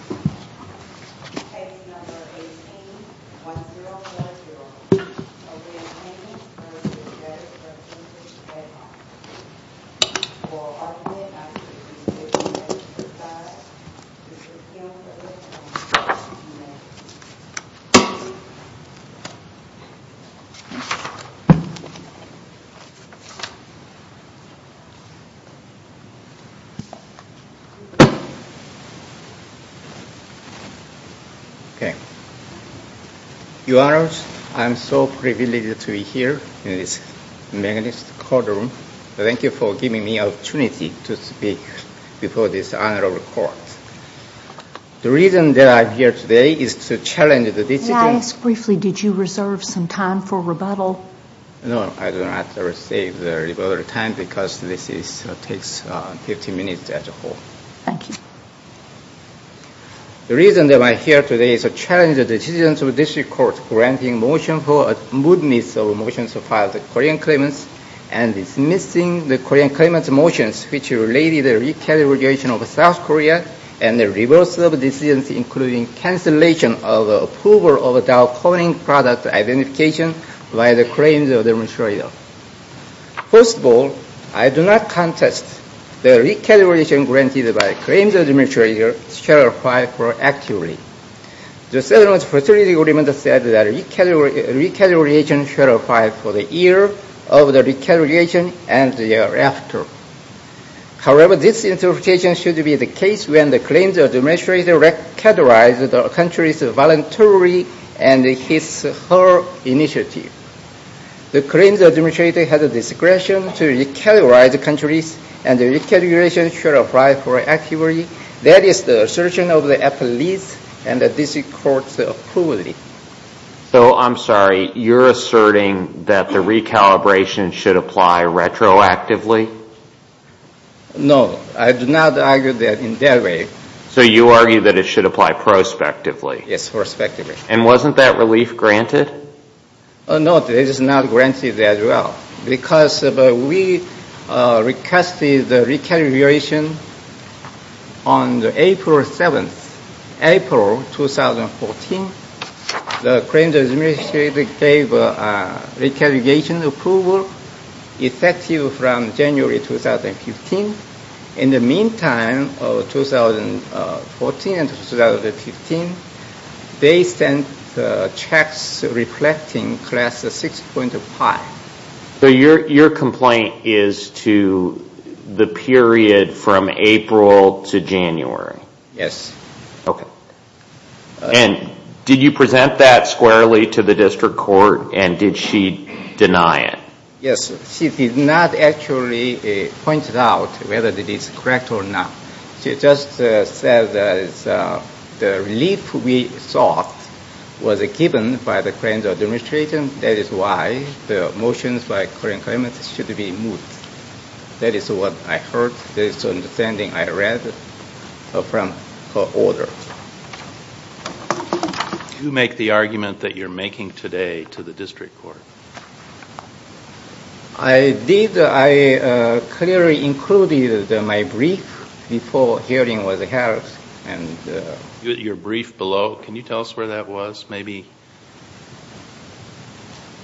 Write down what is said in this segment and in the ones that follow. Case No. 18-1030 of the Appendix v. Debtor's Representatives. Okay, Your Honors, I am so privileged to be here in this magnificent courtroom. Thank you for giving me the opportunity to speak before this honorable court. The reason that I'm here today is to challenge the decision... May I ask briefly, did you reserve some time for rebuttal? No, I did not reserve the rebuttal time because this takes 15 minutes as a whole. Thank you. The reason that I'm here today is to challenge the decision of this court granting motion for a mootness of a motion to file the Korean claimants and dismissing the Korean claimants' motions which related the recalibration of South Korea and the reversal of decisions including cancellation of approval of a Dow Corning product identification by the claims administrator. First of all, I do not contest the recalibration granted by claims administrator shall apply for actively. The settlement facility agreement said that recalibration shall apply for the year of the recalibration and the year after. However, this interpretation should be the case when the claims administrator recalibrate the country's voluntary and his or her initiative. The claims administrator has a discretion to recalibrate the country's and the recalibration should apply for actively. That is the assertion of the appellate and the district court's approval. So I'm sorry, you're asserting that the recalibration should apply retroactively? No, I do not argue that in that way. So you argue that it should apply prospectively? Yes, prospectively. And wasn't that relief granted? No, it is not granted as well because we requested the recalibration on April 7th, April 2014. The claims administrator gave a recalibration approval effective from January 2015. In the meantime, 2014 and 2015, they sent checks reflecting class 6.5. So your complaint is to the period from April to January? Yes. Okay. And did you present that squarely to the district court and did she deny it? Yes, she did not actually point out whether it is correct or not. She just said that the relief we sought was given by the claims administrator. That is why the motions by current claimants should be moved. That is what I heard, that is the understanding I read from her order. Did you make the argument that you are making today to the district court? I did. I clearly included my brief before hearing with the health. Your brief below, can you tell us where that was? Maybe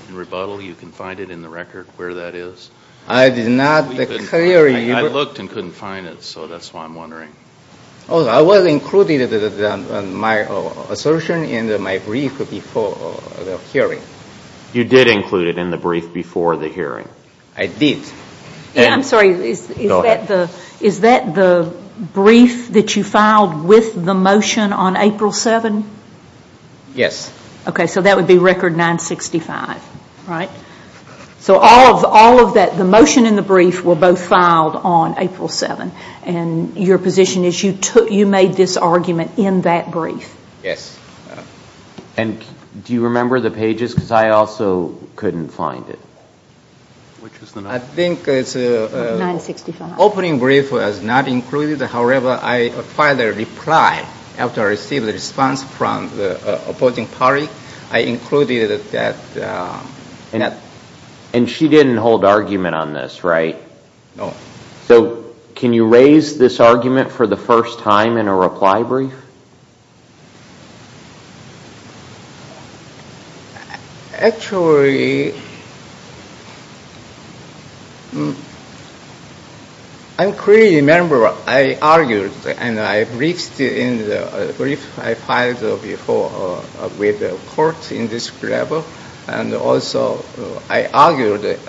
in rebuttal you can find it in the record where that is. I did not clearly. I looked and couldn't find it, so that is why I am wondering. I included my assertion in my brief before the hearing. You did include it in the brief before the hearing? I did. I am sorry, is that the brief that you filed with the motion on April 7? Yes. Okay, so that would be record 965, right? The motion and the brief were both filed on April 7. Your position is you made this argument in that brief? Yes. Do you remember the pages? I also couldn't find it. I think the opening brief was not included. However, I filed a reply after I received a response from the opposing party. I included that. She didn't hold argument on this, right? No. Can you raise this argument for the first time in a reply brief? Actually, I clearly remember I argued, and I briefed in the brief I filed before with the court in this level, and also I argued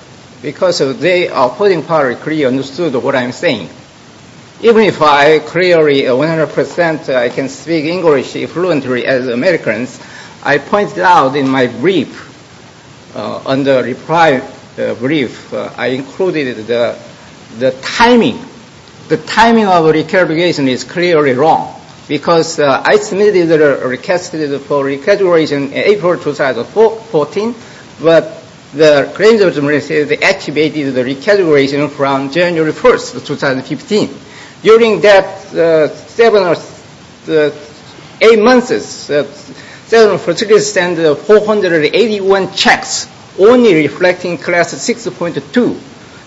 because the opposing party clearly understood what I am saying. Even if I clearly 100 percent can speak English fluently as Americans, I pointed out in my brief, on the reply brief, I included the timing. The timing of recalibration is clearly wrong because I submitted a request for recalibration in April 2014, but the claims authority activated the recalibration from January 1, 2015. During that seven or eight months, 743 sent 481 checks, only reflecting class 6.2.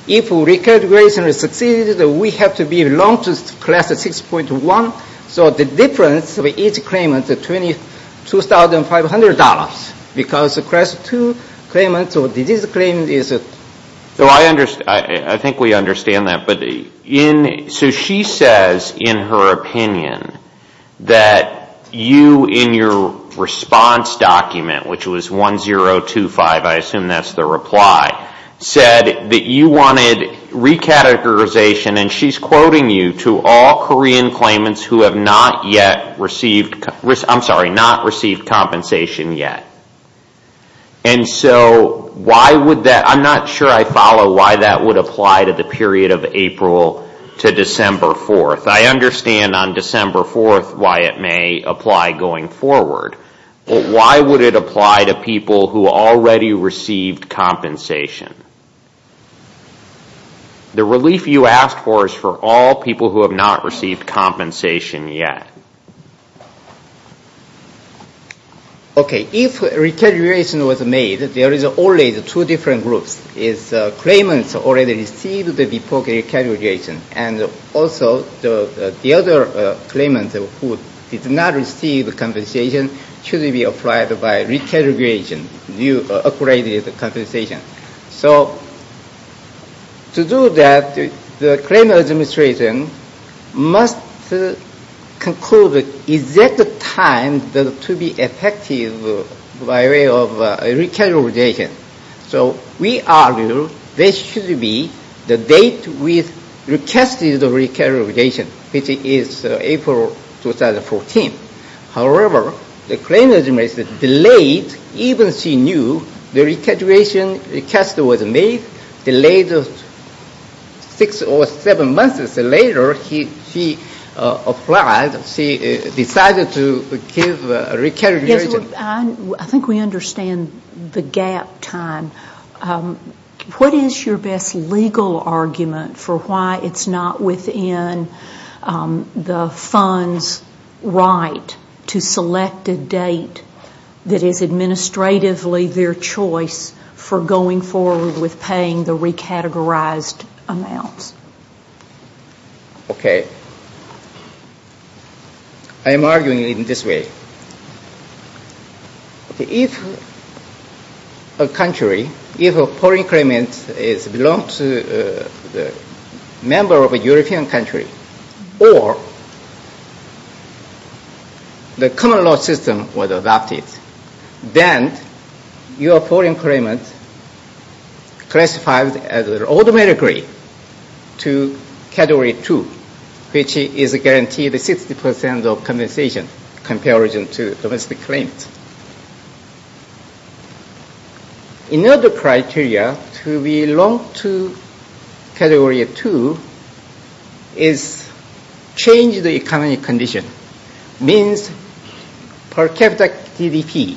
If recalibration is succeeded, we have to belong to class 6.1. So the difference of each claimant is $22,500 because class 2 claimant or disease claimant is... I think we understand that. She says in her opinion that you, in your response document, which was 1025, I assume that's the reply, said that you wanted recategorization, and she's quoting you, to all Korean claimants who have not yet received compensation. I'm not sure I follow why that would apply to the period of April to December 4. I understand on December 4 why it may apply going forward, but why would it apply to people who already received compensation? The relief you asked for is for all people who have not received compensation yet. Okay. If recalibration was made, there is always two different groups. Claimants already received before recalibration, and also the other claimant who did not receive compensation should be applied by recalibration, new upgraded compensation. So to do that, the claimant administration must conclude the exact time to be effective by way of recalibration. So we argue this should be the date we requested the recalibration, which is April 2014. However, the claimant administration delayed even she knew the recalibration request was made, delayed six or seven months. Later, she applied. She decided to give recalibration. I think we understand the gap time. What is your best legal argument for why it's not within the fund's right to select a date that is administratively their choice for going forward with paying the recategorized amounts? Okay. I am arguing in this way. If a country, if a foreign claimant belongs to a member of a European country, or the common law system was adopted, then your foreign claimant classified automatically to category two, which is guaranteed 60% of compensation compared to domestic claims. Another criteria to belong to category two is change the economy condition, which means per capita GDP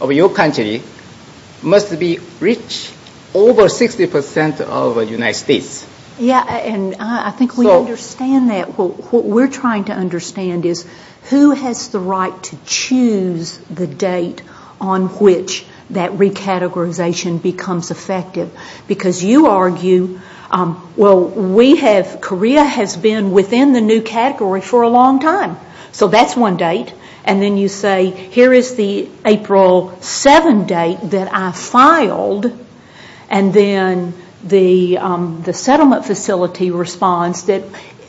of your country must be rich over 60% of the United States. Yes, and I think we understand that. What we're trying to understand is who has the right to choose the date on which that recategorization becomes effective, because you argue, well, we have, Korea has been within the new category for a long time, so that's one date, and then you say, here is the April 7 date that I filed, and then the settlement facility responds that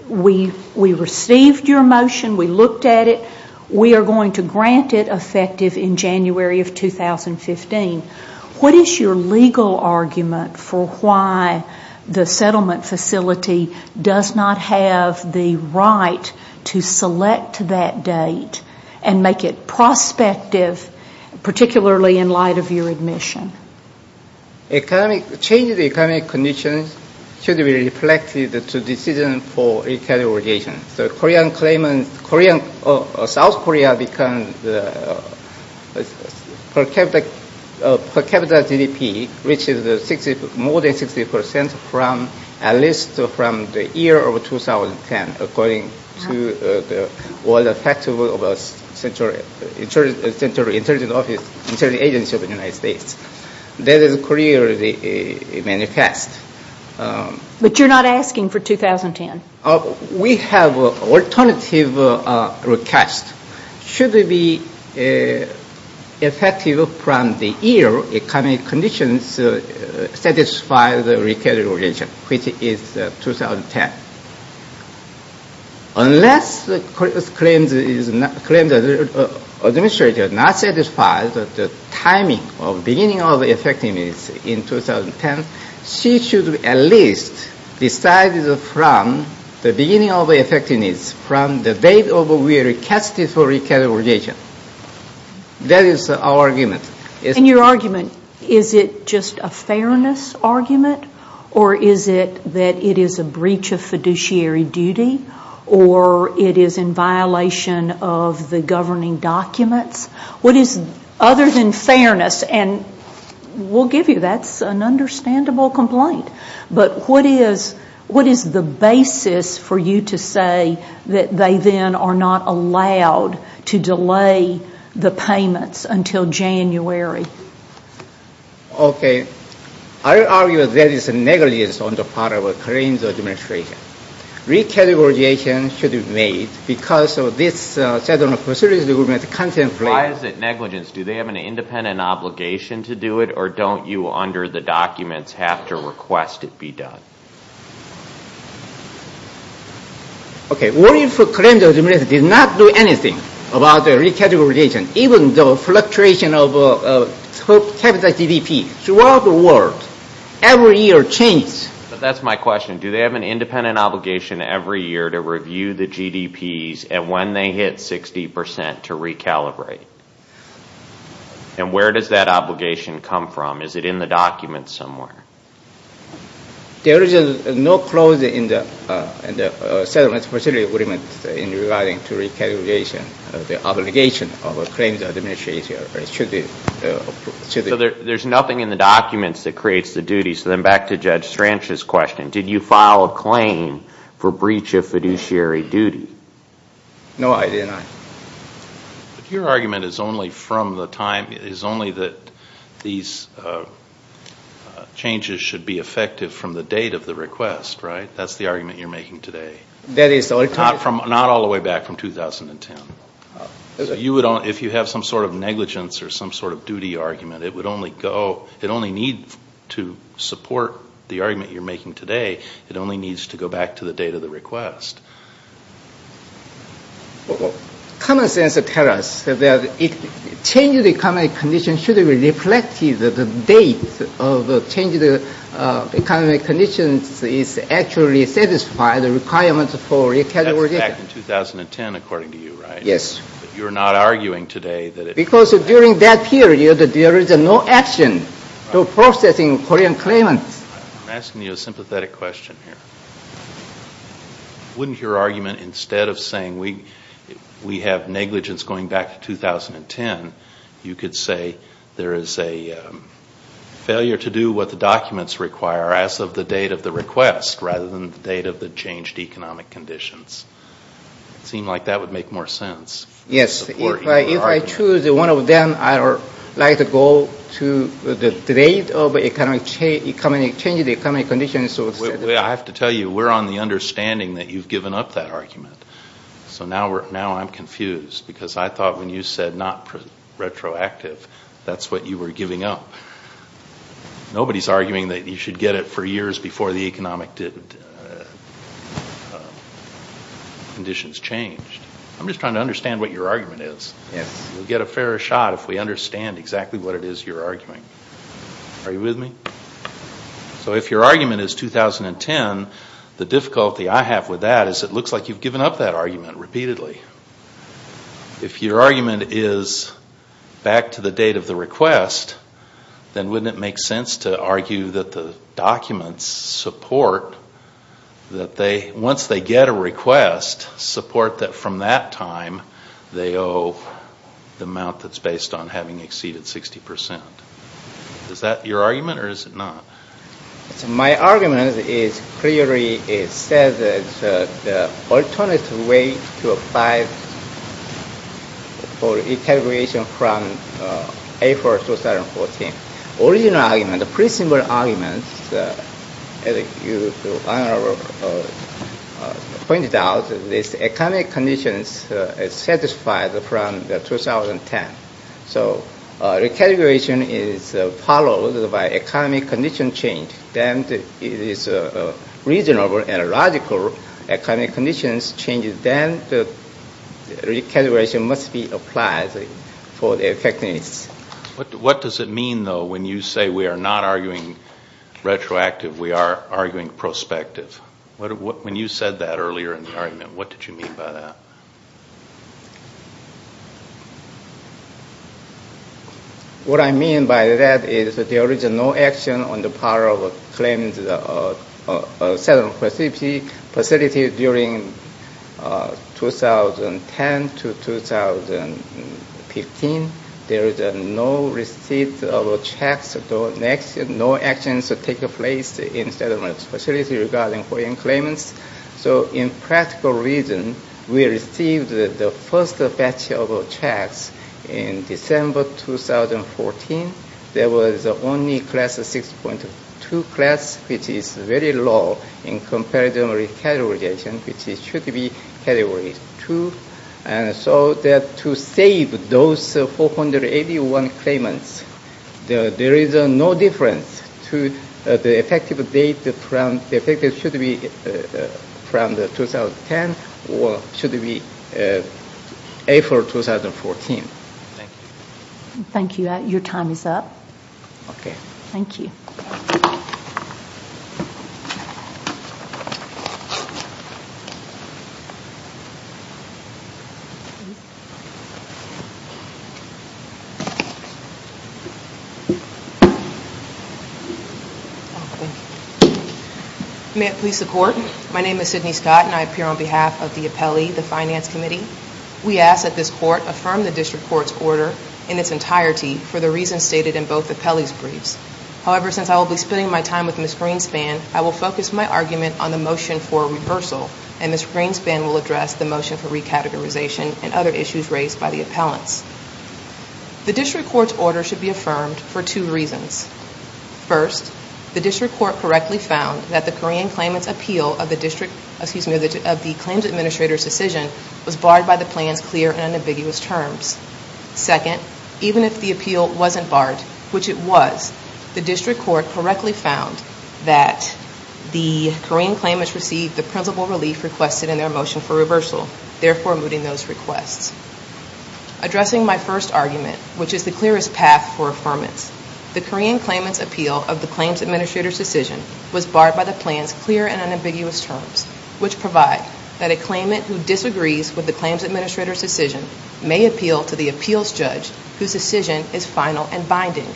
we received your motion, we looked at it, we are going to grant it effective in January of 2015. What is your legal argument for why the settlement facility does not have the right to select that date and make it prospective, particularly in light of your admission? Change the economic conditions should be reflected to decision for recategorization. South Korea becomes per capita GDP, which is more than 60%, at least from the year of 2010, according to the World Factbook of the Central Intelligence Agency of the United States. That is Korea's manifest. But you're not asking for 2010. We have an alternative request. Should it be effective from the year economic conditions satisfy the recategorization, which is 2010. Unless Korea's claims administrator does not satisfy the timing of beginning of effectiveness in 2010, she should at least decide from the beginning of effectiveness, from the date we recast it for recategorization. That is our argument. And your argument, is it just a fairness argument, or is it that it is a breach of fiduciary duty, or it is in violation of the governing documents? What is, other than fairness, and we'll give you that's an understandable complaint, but what is the basis for you to say that they then are not allowed to delay the payments until January? Okay. I argue that is a negligence on the part of Korea's administration. Recategorization should be made because of this set of procedures the government contemplates. Why is it negligence? Do they have an independent obligation to do it, or don't you, under the documents, have to request it be done? Okay. What if the claims administrator did not do anything about the recategorization, even though fluctuation of capital GDP throughout the world every year changes? That's my question. Do they have an independent obligation every year to review the GDPs, and when they hit 60 percent, to recalibrate? And where does that obligation come from? Is it in the documents somewhere? There is no clause in the settlement facility agreement in regarding to recalibration, the obligation of a claims administrator. So there's nothing in the documents that creates the duty. So then back to Judge Stranch's question. Did you file a claim for breach of fiduciary duty? No, I did not. Your argument is only that these changes should be effective from the date of the request, right? That's the argument you're making today. Not all the way back from 2010. If you have some sort of negligence or some sort of duty argument, it only needs to support the argument you're making today. It only needs to go back to the date of the request. Common sense tells us that changing the economic conditions should reflect the date of changing the economic conditions is actually satisfying the requirements for recalibration. It went back to 2010, according to you, right? Yes. But you're not arguing today that it... Because during that period, there is no action to processing Korean claimants. I'm asking you a sympathetic question here. Wouldn't your argument, instead of saying we have negligence going back to 2010, you could say there is a failure to do what the documents require as of the date of the request rather than the date of the changed economic conditions? It seemed like that would make more sense. Yes. If I choose one of them, I would like to go to the date of changing the economic conditions. I have to tell you, we're on the understanding that you've given up that argument. So now I'm confused because I thought when you said not retroactive, that's what you were giving up. Nobody's arguing that you should get it for years before the economic conditions changed. I'm just trying to understand what your argument is. Yes. We'll get a fairer shot if we understand exactly what it is you're arguing. Are you with me? So if your argument is 2010, the difficulty I have with that is it looks like you've given up that argument repeatedly. If your argument is back to the date of the request, then wouldn't it make sense to argue that the documents support that once they get a request, support that from that time they owe the amount that's based on having exceeded 60%? Is that your argument or is it not? My argument clearly says that the alternative way to apply for recalibration from April 2014. The original argument, the principle argument, as you pointed out, this economic condition is satisfied from 2010. So recalibration is followed by economic condition change. Then it is reasonable and logical economic conditions change. Then recalibration must be applied for effectiveness. What does it mean, though, when you say we are not arguing retroactive, we are arguing prospective? When you said that earlier in the argument, what did you mean by that? What I mean by that is there is no action on the part of claims settlement facility during 2010 to 2015. There is no receipt of checks, no actions take place in settlement facility regarding foreign claimants. So in practical reason, we received the first batch of checks in December 2014. There was only class 6.2, which is very low in comparative recalibration, which should be category 2. So to save those 481 claimants, there is no difference to the effective date. The effective should be from 2010 or should be April 2014. Thank you. Thank you. Your time is up. Okay. Thank you. Thank you. May it please the Court, my name is Sydney Scott, and I appear on behalf of the appellee, the Finance Committee. We ask that this Court affirm the District Court's order in its entirety for the reasons stated in both appellees' briefs. However, since I will be spending my time with Ms. Greenspan, I will focus my argument on the motion for reversal, and Ms. Greenspan will address the motion for recategorization and other issues raised by the appellants. The District Court's order should be affirmed for two reasons. First, the District Court correctly found that the Korean claimant's appeal of the claims administrator's decision was barred by the plan's clear and unambiguous terms. Second, even if the appeal wasn't barred, which it was, the District Court correctly found that the Korean claimants received the principal relief requested in their motion for reversal, therefore mooting those requests. Addressing my first argument, which is the clearest path for affirmance, the Korean claimant's appeal of the claims administrator's decision was barred by the plan's clear and unambiguous terms, which provide that a claimant who disagrees with the claims administrator's decision may appeal to the appeals judge whose decision is final and binding.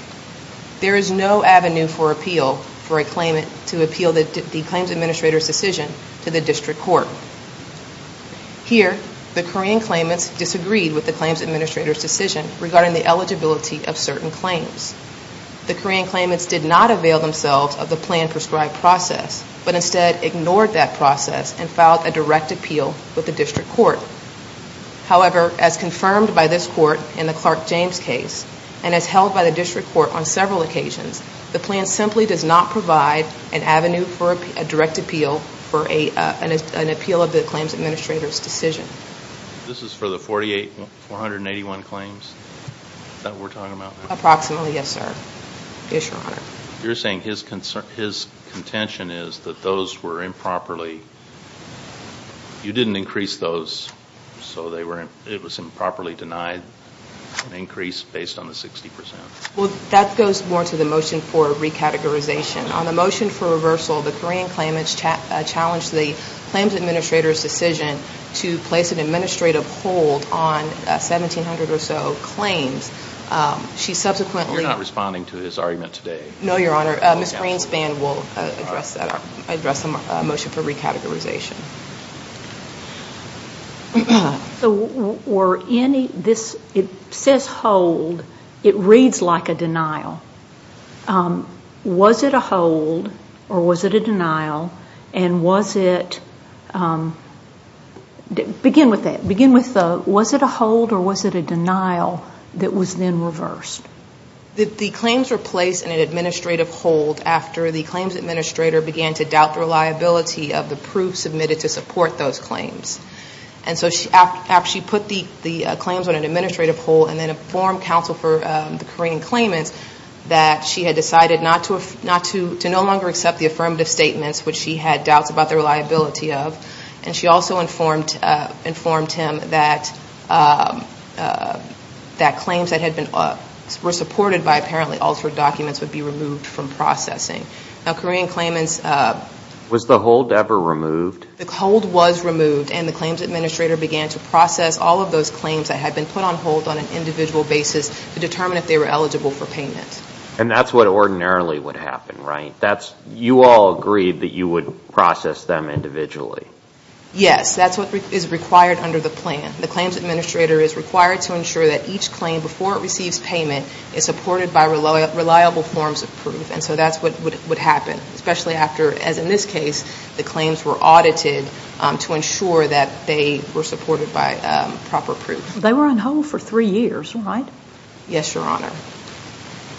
There is no avenue for appeal for a claimant to appeal the claims administrator's decision to the District Court. Here, the Korean claimants disagreed with the claims administrator's decision regarding the eligibility of certain claims. The Korean claimants did not avail themselves of the plan-prescribed process, but instead ignored that process and filed a direct appeal with the District Court. However, as confirmed by this Court in the Clark James case, and as held by the District Court on several occasions, the plan simply does not provide an avenue for a direct appeal for an appeal of the claims administrator's decision. This is for the 48, 481 claims that we're talking about? Approximately, yes, sir. Yes, Your Honor. You're saying his contention is that those were improperly, you didn't increase those, so it was improperly denied an increase based on the 60 percent? Well, that goes more to the motion for recategorization. On the motion for reversal, the Korean claimants challenged the claims administrator's decision to place an administrative hold on 1,700 or so claims. You're not responding to his argument today? No, Your Honor. Ms. Greenspan will address the motion for recategorization. It says hold. It reads like a denial. Was it a hold or was it a denial? And was it, begin with that, was it a hold or was it a denial that was then reversed? The claims were placed in an administrative hold after the claims administrator began to doubt the reliability of the proof submitted to support those claims. And so after she put the claims on an administrative hold and then informed counsel for the Korean claimants that she had decided to no longer accept the affirmative statements, which she had doubts about the reliability of, and she also informed him that claims that were supported by apparently altered documents would be removed from processing. Now, Korean claimants... Was the hold ever removed? The hold was removed and the claims administrator began to process all of those claims that had been put on hold on an individual basis to determine if they were eligible for payment. And that's what ordinarily would happen, right? You all agreed that you would process them individually. Yes, that's what is required under the plan. The claims administrator is required to ensure that each claim, before it receives payment, is supported by reliable forms of proof. And so that's what would happen, especially after, as in this case, the claims were audited to ensure that they were supported by proper proof. They were on hold for three years, right? Yes, Your Honor.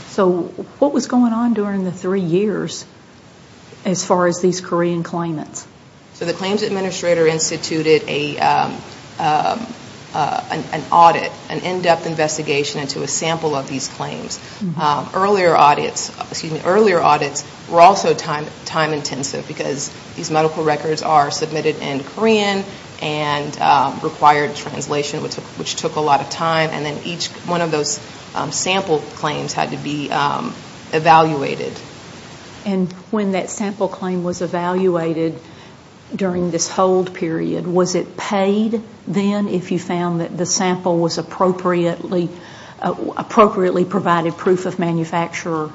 So what was going on during the three years as far as these Korean claimants? So the claims administrator instituted an audit, an in-depth investigation into a sample of these claims. Earlier audits were also time-intensive because these medical records are submitted in Korean and required translation, which took a lot of time. And then each one of those sample claims had to be evaluated. And when that sample claim was evaluated during this hold period, was it paid then if you found that the sample was appropriately provided proof of manufacturer?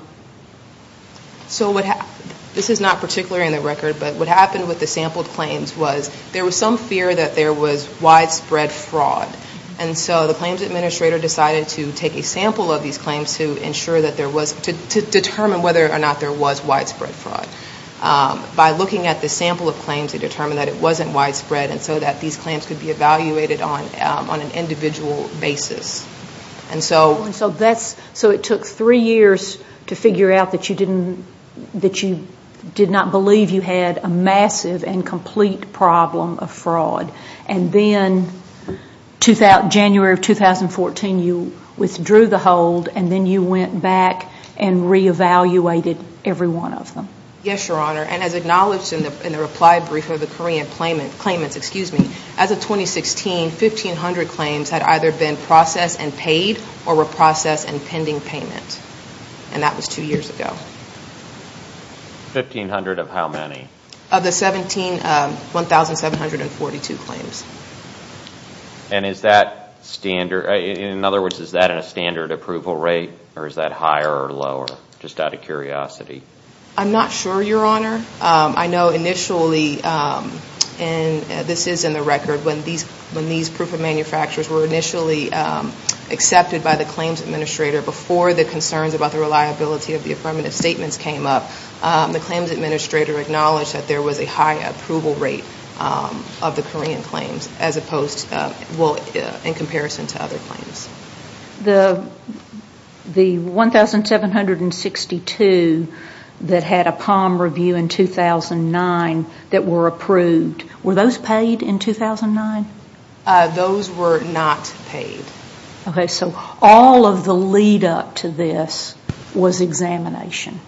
So what happened, this is not particular in the record, but what happened with the sampled claims was there was some fear that there was widespread fraud. And so the claims administrator decided to take a sample of these claims to ensure that there was, to determine whether or not there was widespread fraud. By looking at the sample of claims, they determined that it wasn't widespread and so that these claims could be evaluated on an individual basis. And so that's, so it took three years to figure out that you didn't, that you did not believe you had a massive and complete problem of fraud. And then January of 2014, you withdrew the hold and then you went back and re-evaluated every one of them. Yes, Your Honor. And as acknowledged in the reply brief of the Korean claimants, as of 2016, 1,500 claims had either been processed and paid or were processed and pending payment. And that was two years ago. 1,500 of how many? Of the 17, 1,742 claims. And is that standard, in other words, is that in a standard approval rate or is that higher or lower, just out of curiosity? I'm not sure, Your Honor. I know initially, and this is in the record, when these proof of manufacturers were initially accepted by the claims administrator before the concerns about the reliability of the affirmative statements came up, the claims administrator acknowledged that there was a high approval rate of the Korean claims as opposed, well, in comparison to other claims. The 1,762 that had a POM review in 2009 that were approved, were those paid in 2009? Those were not paid. Okay, so all of the lead-up to this was examination.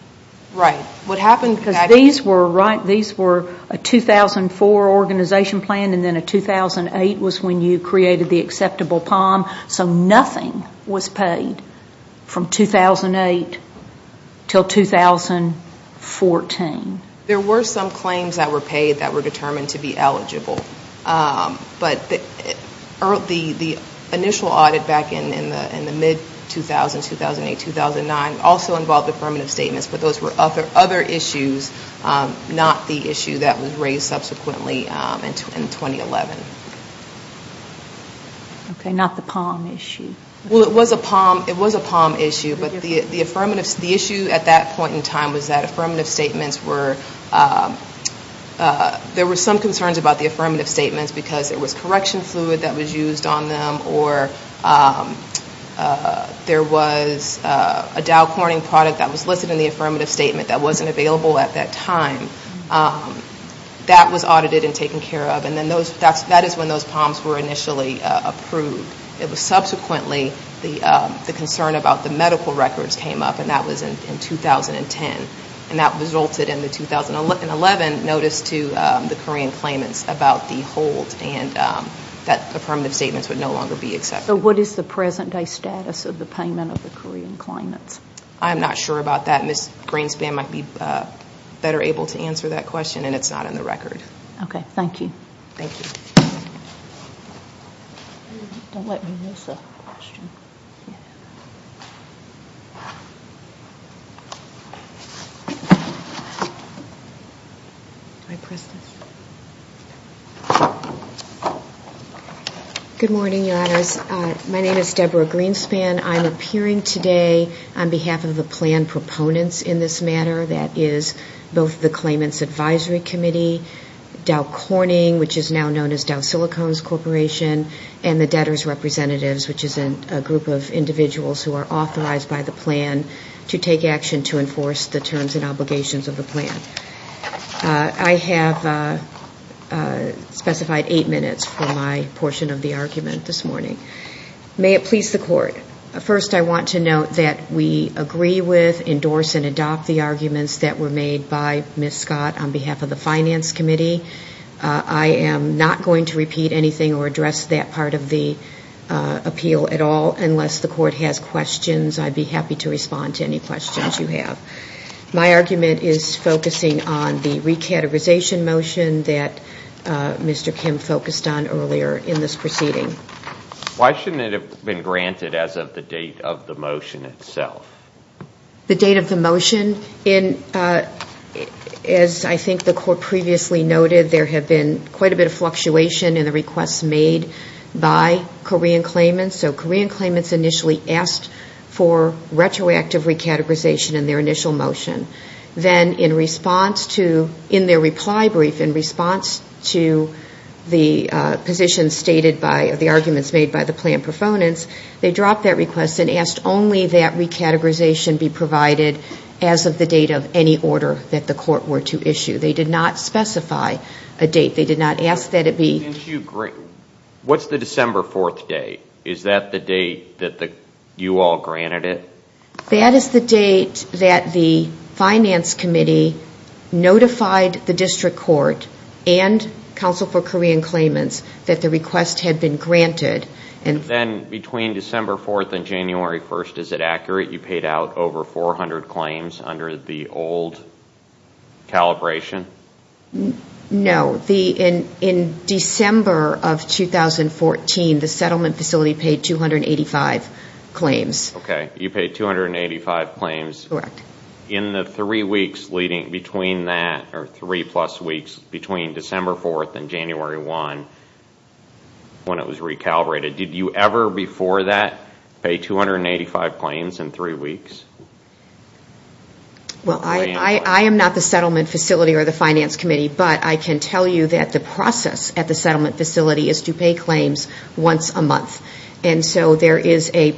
Right. Because these were a 2004 organization plan, and then a 2008 was when you created the acceptable POM, so nothing was paid from 2008 until 2014. There were some claims that were paid that were determined to be eligible. But the initial audit back in the mid-2000s, 2008, 2009, also involved affirmative statements, but those were other issues, not the issue that was raised subsequently in 2011. Okay, not the POM issue. Well, it was a POM issue, but the issue at that point in time was that affirmative statements were, there were some concerns about the affirmative statements because there was correction fluid that was used on them or there was a Dow Corning product that was listed in the affirmative statement that wasn't available at that time. That was audited and taken care of, and then that is when those POMs were initially approved. It was subsequently the concern about the medical records came up, and that was in 2010. And that resulted in the 2011 notice to the Korean claimants about the hold and that affirmative statements would no longer be accepted. So what is the present-day status of the payment of the Korean claimants? I'm not sure about that. Ms. Greenspan might be better able to answer that question, and it's not in the record. Okay, thank you. Thank you. Don't let me miss a question. Do I press this? Good morning, Your Honors. My name is Deborah Greenspan. I'm appearing today on behalf of the planned proponents in this matter. That is both the Claimants Advisory Committee, Dow Corning, which is now known as Dow Silicones Corporation, and the debtors' representatives, which is a group of individuals who are authorized by the plan to take action to enforce the terms and obligations of the plan. I have specified eight minutes for my portion of the argument this morning. May it please the Court. First, I want to note that we agree with, endorse, and adopt the arguments that were made by Ms. Scott on behalf of the Finance Committee. I am not going to repeat anything or address that part of the appeal at all unless the Court has questions. I'd be happy to respond to any questions you have. My argument is focusing on the recategorization motion that Mr. Kim focused on earlier in this proceeding. Why shouldn't it have been granted as of the date of the motion itself? The date of the motion, as I think the Court previously noted, there have been quite a bit of fluctuation in the requests made by Korean claimants. So Korean claimants initially asked for retroactive recategorization in their initial motion. Then in their reply brief, in response to the position stated by the arguments made by the plan proponents, they dropped that request and asked only that recategorization be provided as of the date of any order that the Court were to issue. They did not specify a date. They did not ask that it be... What's the December 4th date? Is that the date that you all granted it? That is the date that the Finance Committee notified the District Court and Counsel for Korean Claimants that the request had been granted. Then between December 4th and January 1st, is it accurate you paid out over 400 claims under the old calibration? No. In December of 2014, the settlement facility paid 285 claims. Okay. You paid 285 claims. Correct. In the three plus weeks between December 4th and January 1st, when it was recalibrated, did you ever before that pay 285 claims in three weeks? I am not the settlement facility or the Finance Committee, but I can tell you that the process at the settlement facility is to pay claims once a month. And so there is a...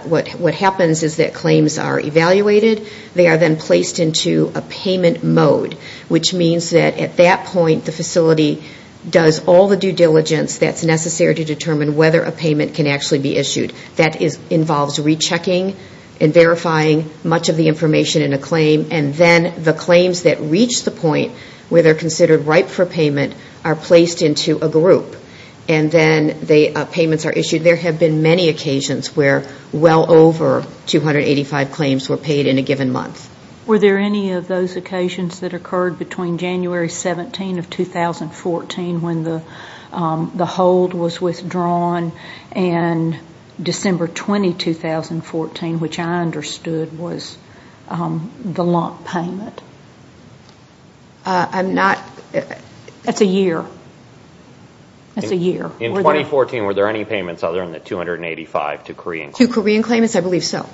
What happens is that claims are evaluated. They are then placed into a payment mode, which means that at that point the facility does all the due diligence that's necessary to determine whether a payment can actually be issued. That involves rechecking and verifying much of the information in a claim. And then the claims that reach the point where they're considered ripe for payment are placed into a group. And then the payments are issued. There have been many occasions where well over 285 claims were paid in a given month. Were there any of those occasions that occurred between January 17 of 2014 when the hold was withdrawn and December 20, 2014, which I understood was the lump payment? I'm not... That's a year. That's a year. In 2014, were there any payments other than the 285 to Korean claimants? To Korean claimants, I believe so.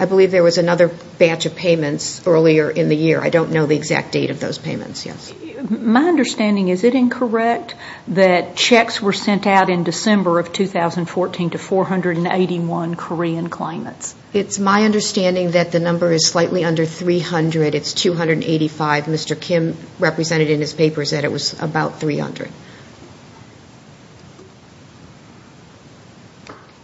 I believe there was another batch of payments earlier in the year. I don't know the exact date of those payments, yes. My understanding, is it incorrect that checks were sent out in December of 2014 to 481 Korean claimants? It's my understanding that the number is slightly under 300. It's 285. Mr. Kim represented in his papers that it was about 300.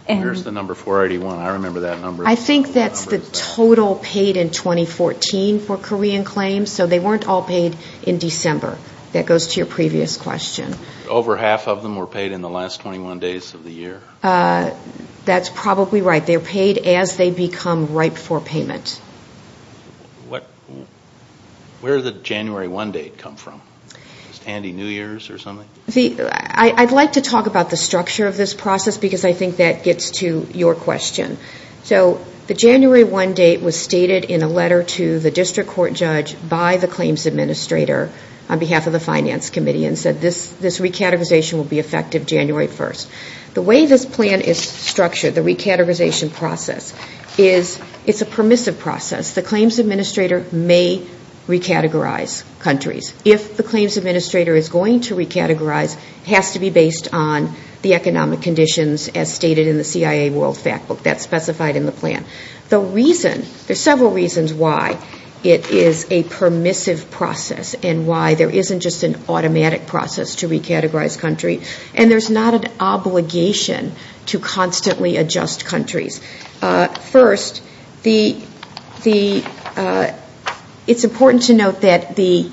Where's the number 481? I remember that number. I think that's the total paid in 2014 for Korean claims. So they weren't all paid in December. That goes to your previous question. Over half of them were paid in the last 21 days of the year. That's probably right. They're paid as they become ripe for payment. Where did the January 1 date come from? Was it Andy New Year's or something? I'd like to talk about the structure of this process because I think that gets to your question. The January 1 date was stated in a letter to the district court judge by the claims administrator on behalf of the Finance Committee and said this recategorization will be effective January 1. The way this plan is structured, the recategorization process, is it's a permissive process. The claims administrator may recategorize countries. If the claims administrator is going to recategorize, it has to be based on the economic conditions as stated in the CIA World Factbook that's specified in the plan. There are several reasons why it is a permissive process and why there isn't just an automatic process to recategorize country. And there's not an obligation to constantly adjust countries. First, it's important to note that the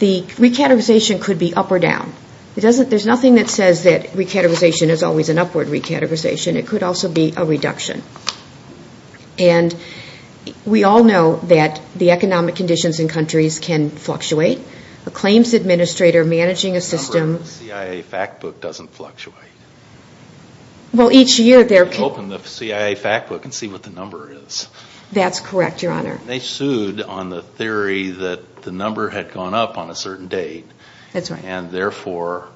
recategorization could be up or down. There's nothing that says that recategorization is always an upward recategorization. It could also be a reduction. And we all know that the economic conditions in countries can fluctuate. A claims administrator managing a system... The number on the CIA Factbook doesn't fluctuate. Well, each year there can... Open the CIA Factbook and see what the number is. That's correct, Your Honor. They sued on the theory that the number had gone up on a certain date. That's right. And therefore,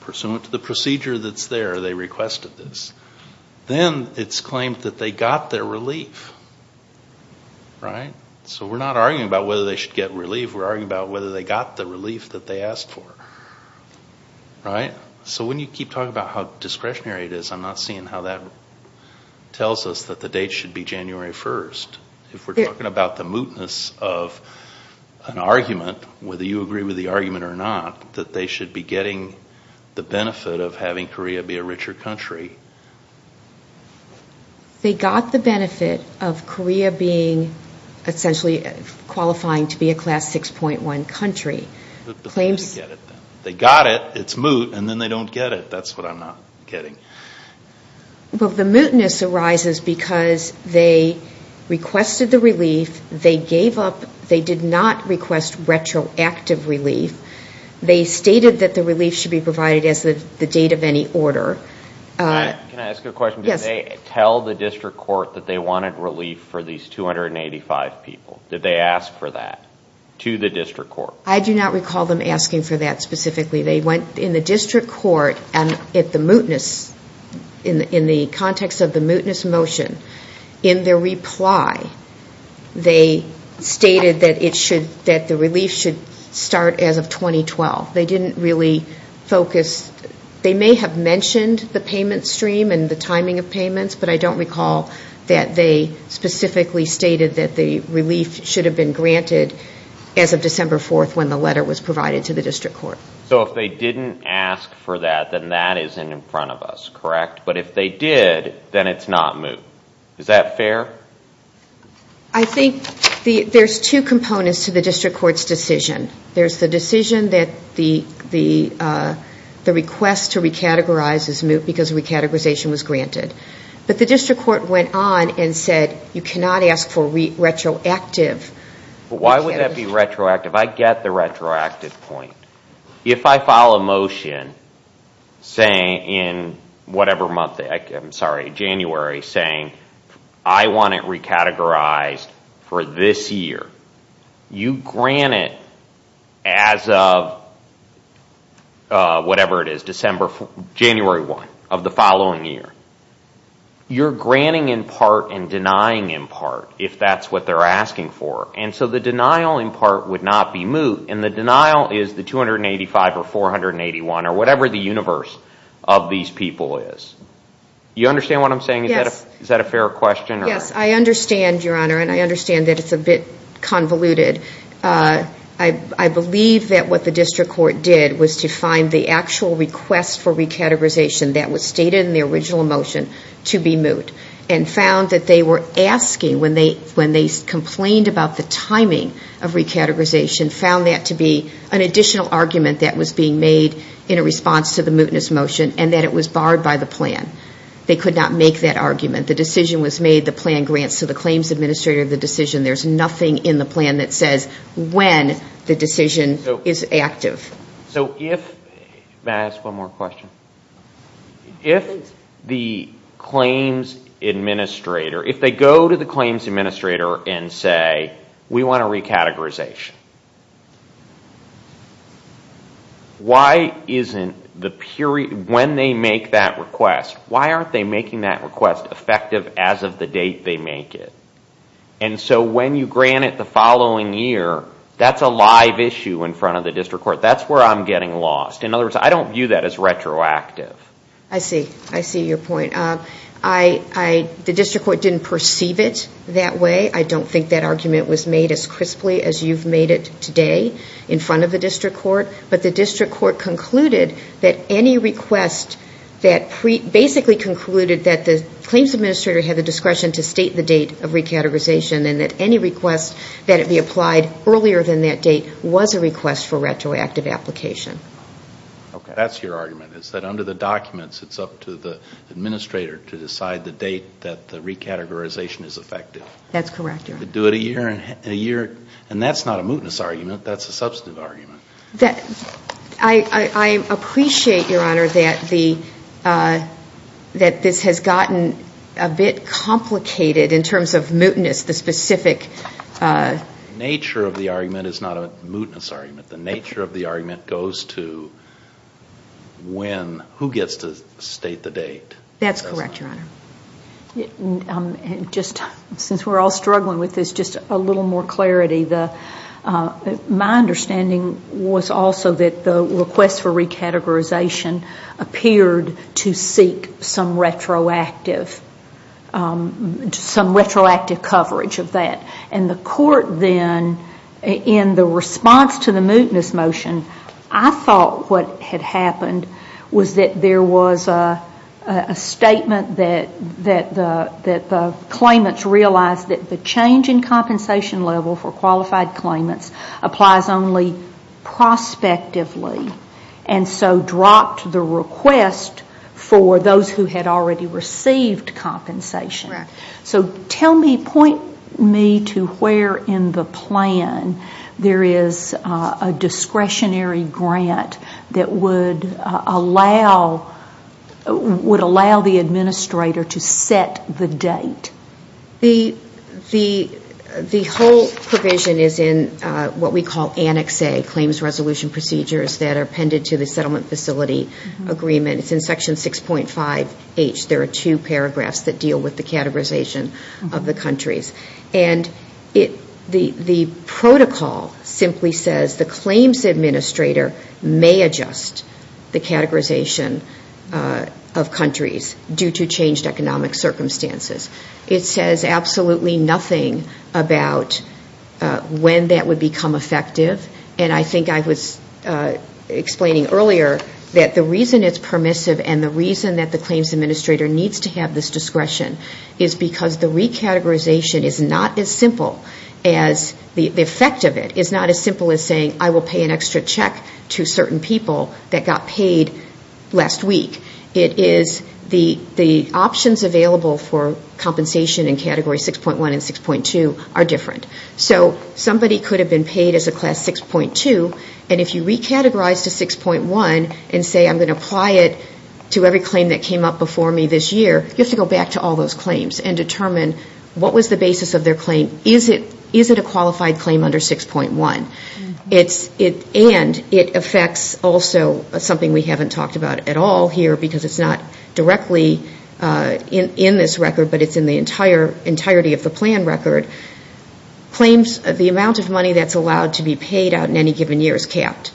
pursuant to the procedure that's there, they requested this. Then it's claimed that they got their relief, right? So we're not arguing about whether they should get relief. We're arguing about whether they got the relief that they asked for, right? So when you keep talking about how discretionary it is, I'm not seeing how that tells us that the date should be January 1st. If we're talking about the mootness of an argument, whether you agree with the argument or not, that they should be getting the benefit of having Korea be a richer country. They got the benefit of Korea being essentially qualifying to be a Class 6.1 country. But they didn't get it then. They got it, it's moot, and then they don't get it. That's what I'm not getting. Well, the mootness arises because they requested the relief. They gave up. They did not request retroactive relief. They stated that the relief should be provided as the date of any order. Can I ask you a question? Yes. Did they tell the district court that they wanted relief for these 285 people? Did they ask for that to the district court? I do not recall them asking for that specifically. They went in the district court at the mootness, in the context of the mootness motion. In their reply, they stated that the relief should start as of 2012. They didn't really focus. They may have mentioned the payment stream and the timing of payments, but I don't recall that they specifically stated that the relief should have been granted as of December 4th when the letter was provided to the district court. So if they didn't ask for that, then that isn't in front of us, correct? But if they did, then it's not moot. Is that fair? I think there's two components to the district court's decision. There's the decision that the request to recategorize is moot because recategorization was granted. But the district court went on and said you cannot ask for retroactive. Why would that be retroactive? I get the retroactive point. If I file a motion in January saying I want it recategorized for this year, you grant it as of whatever it is, January 1 of the following year. You're granting in part and denying in part if that's what they're asking for. And so the denial in part would not be moot, and the denial is the 285 or 481 or whatever the universe of these people is. Do you understand what I'm saying? Yes. Is that a fair question? Yes, I understand, Your Honor, and I understand that it's a bit convoluted. I believe that what the district court did was to find the actual request for recategorization that was stated in the original motion to be moot and found that they were asking when they complained about the timing of recategorization, found that to be an additional argument that was being made in response to the mootness motion and that it was barred by the plan. They could not make that argument. The decision was made, the plan grants to the claims administrator the decision. There's nothing in the plan that says when the decision is active. May I ask one more question? Please. If the claims administrator, if they go to the claims administrator and say, we want a recategorization, when they make that request, why aren't they making that request effective as of the date they make it? And so when you grant it the following year, that's a live issue in front of the district court. That's where I'm getting lost. In other words, I don't view that as retroactive. I see. I see your point. The district court didn't perceive it that way. I don't think that argument was made as crisply as you've made it today in front of the district court. But the district court concluded that any request that basically concluded that the claims administrator had the discretion to state the date of recategorization and that any request that it be applied earlier than that date was a request for retroactive application. Okay. That's your argument, is that under the documents, it's up to the administrator to decide the date that the recategorization is effective. That's correct. To do it a year, and that's not a mootness argument. That's a substantive argument. I appreciate, Your Honor, that this has gotten a bit complicated in terms of mootness, the specific. The nature of the argument is not a mootness argument. The nature of the argument goes to when, who gets to state the date. That's correct, Your Honor. Since we're all struggling with this, just a little more clarity. My understanding was also that the request for recategorization appeared to seek some retroactive coverage of that. And the court then, in the response to the mootness motion, I thought what had happened was that there was a statement that the claimants realized that the change in compensation level for qualified claimants applies only prospectively, and so dropped the request for those who had already received compensation. Correct. Point me to where in the plan there is a discretionary grant that would allow the administrator to set the date. The whole provision is in what we call Annex A, claims resolution procedures, that are appended to the settlement facility agreement. It's in Section 6.5H. There are two paragraphs that deal with the categorization of the countries. And the protocol simply says the claims administrator may adjust the categorization of countries due to changed economic circumstances. It says absolutely nothing about when that would become effective. And I think I was explaining earlier that the reason it's permissive and the reason that the claims administrator needs to have this discretion is because the recategorization is not as simple as, the effect of it is not as simple as saying I will pay an extra check to certain people that got paid last week. It is the options available for compensation in Category 6.1 and 6.2 are different. So somebody could have been paid as a Class 6.2. And if you recategorize to 6.1 and say I'm going to apply it to every claim that came up before me this year, you have to go back to all those claims and determine what was the basis of their claim. Is it a qualified claim under 6.1? And it affects also something we haven't talked about at all here because it's not directly in this record, but it's in the entirety of the plan record. The amount of money that's allowed to be paid out in any given year is capped.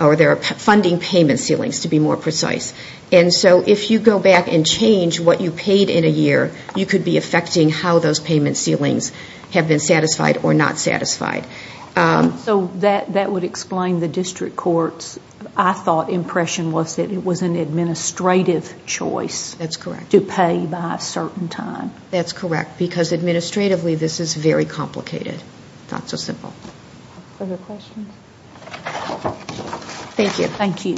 Or there are funding payment ceilings, to be more precise. And so if you go back and change what you paid in a year, you could be affecting how those payment ceilings have been satisfied or not satisfied. So that would explain the district courts. I thought impression was that it was an administrative choice to pay by a certain time. That's correct. Because administratively, this is very complicated. Not so simple. Further questions? Thank you.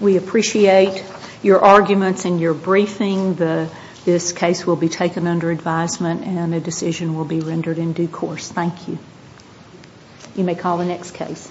We appreciate your arguments and your briefing. This case will be taken under advisement and a decision will be rendered in due course. Thank you. You may call the next case.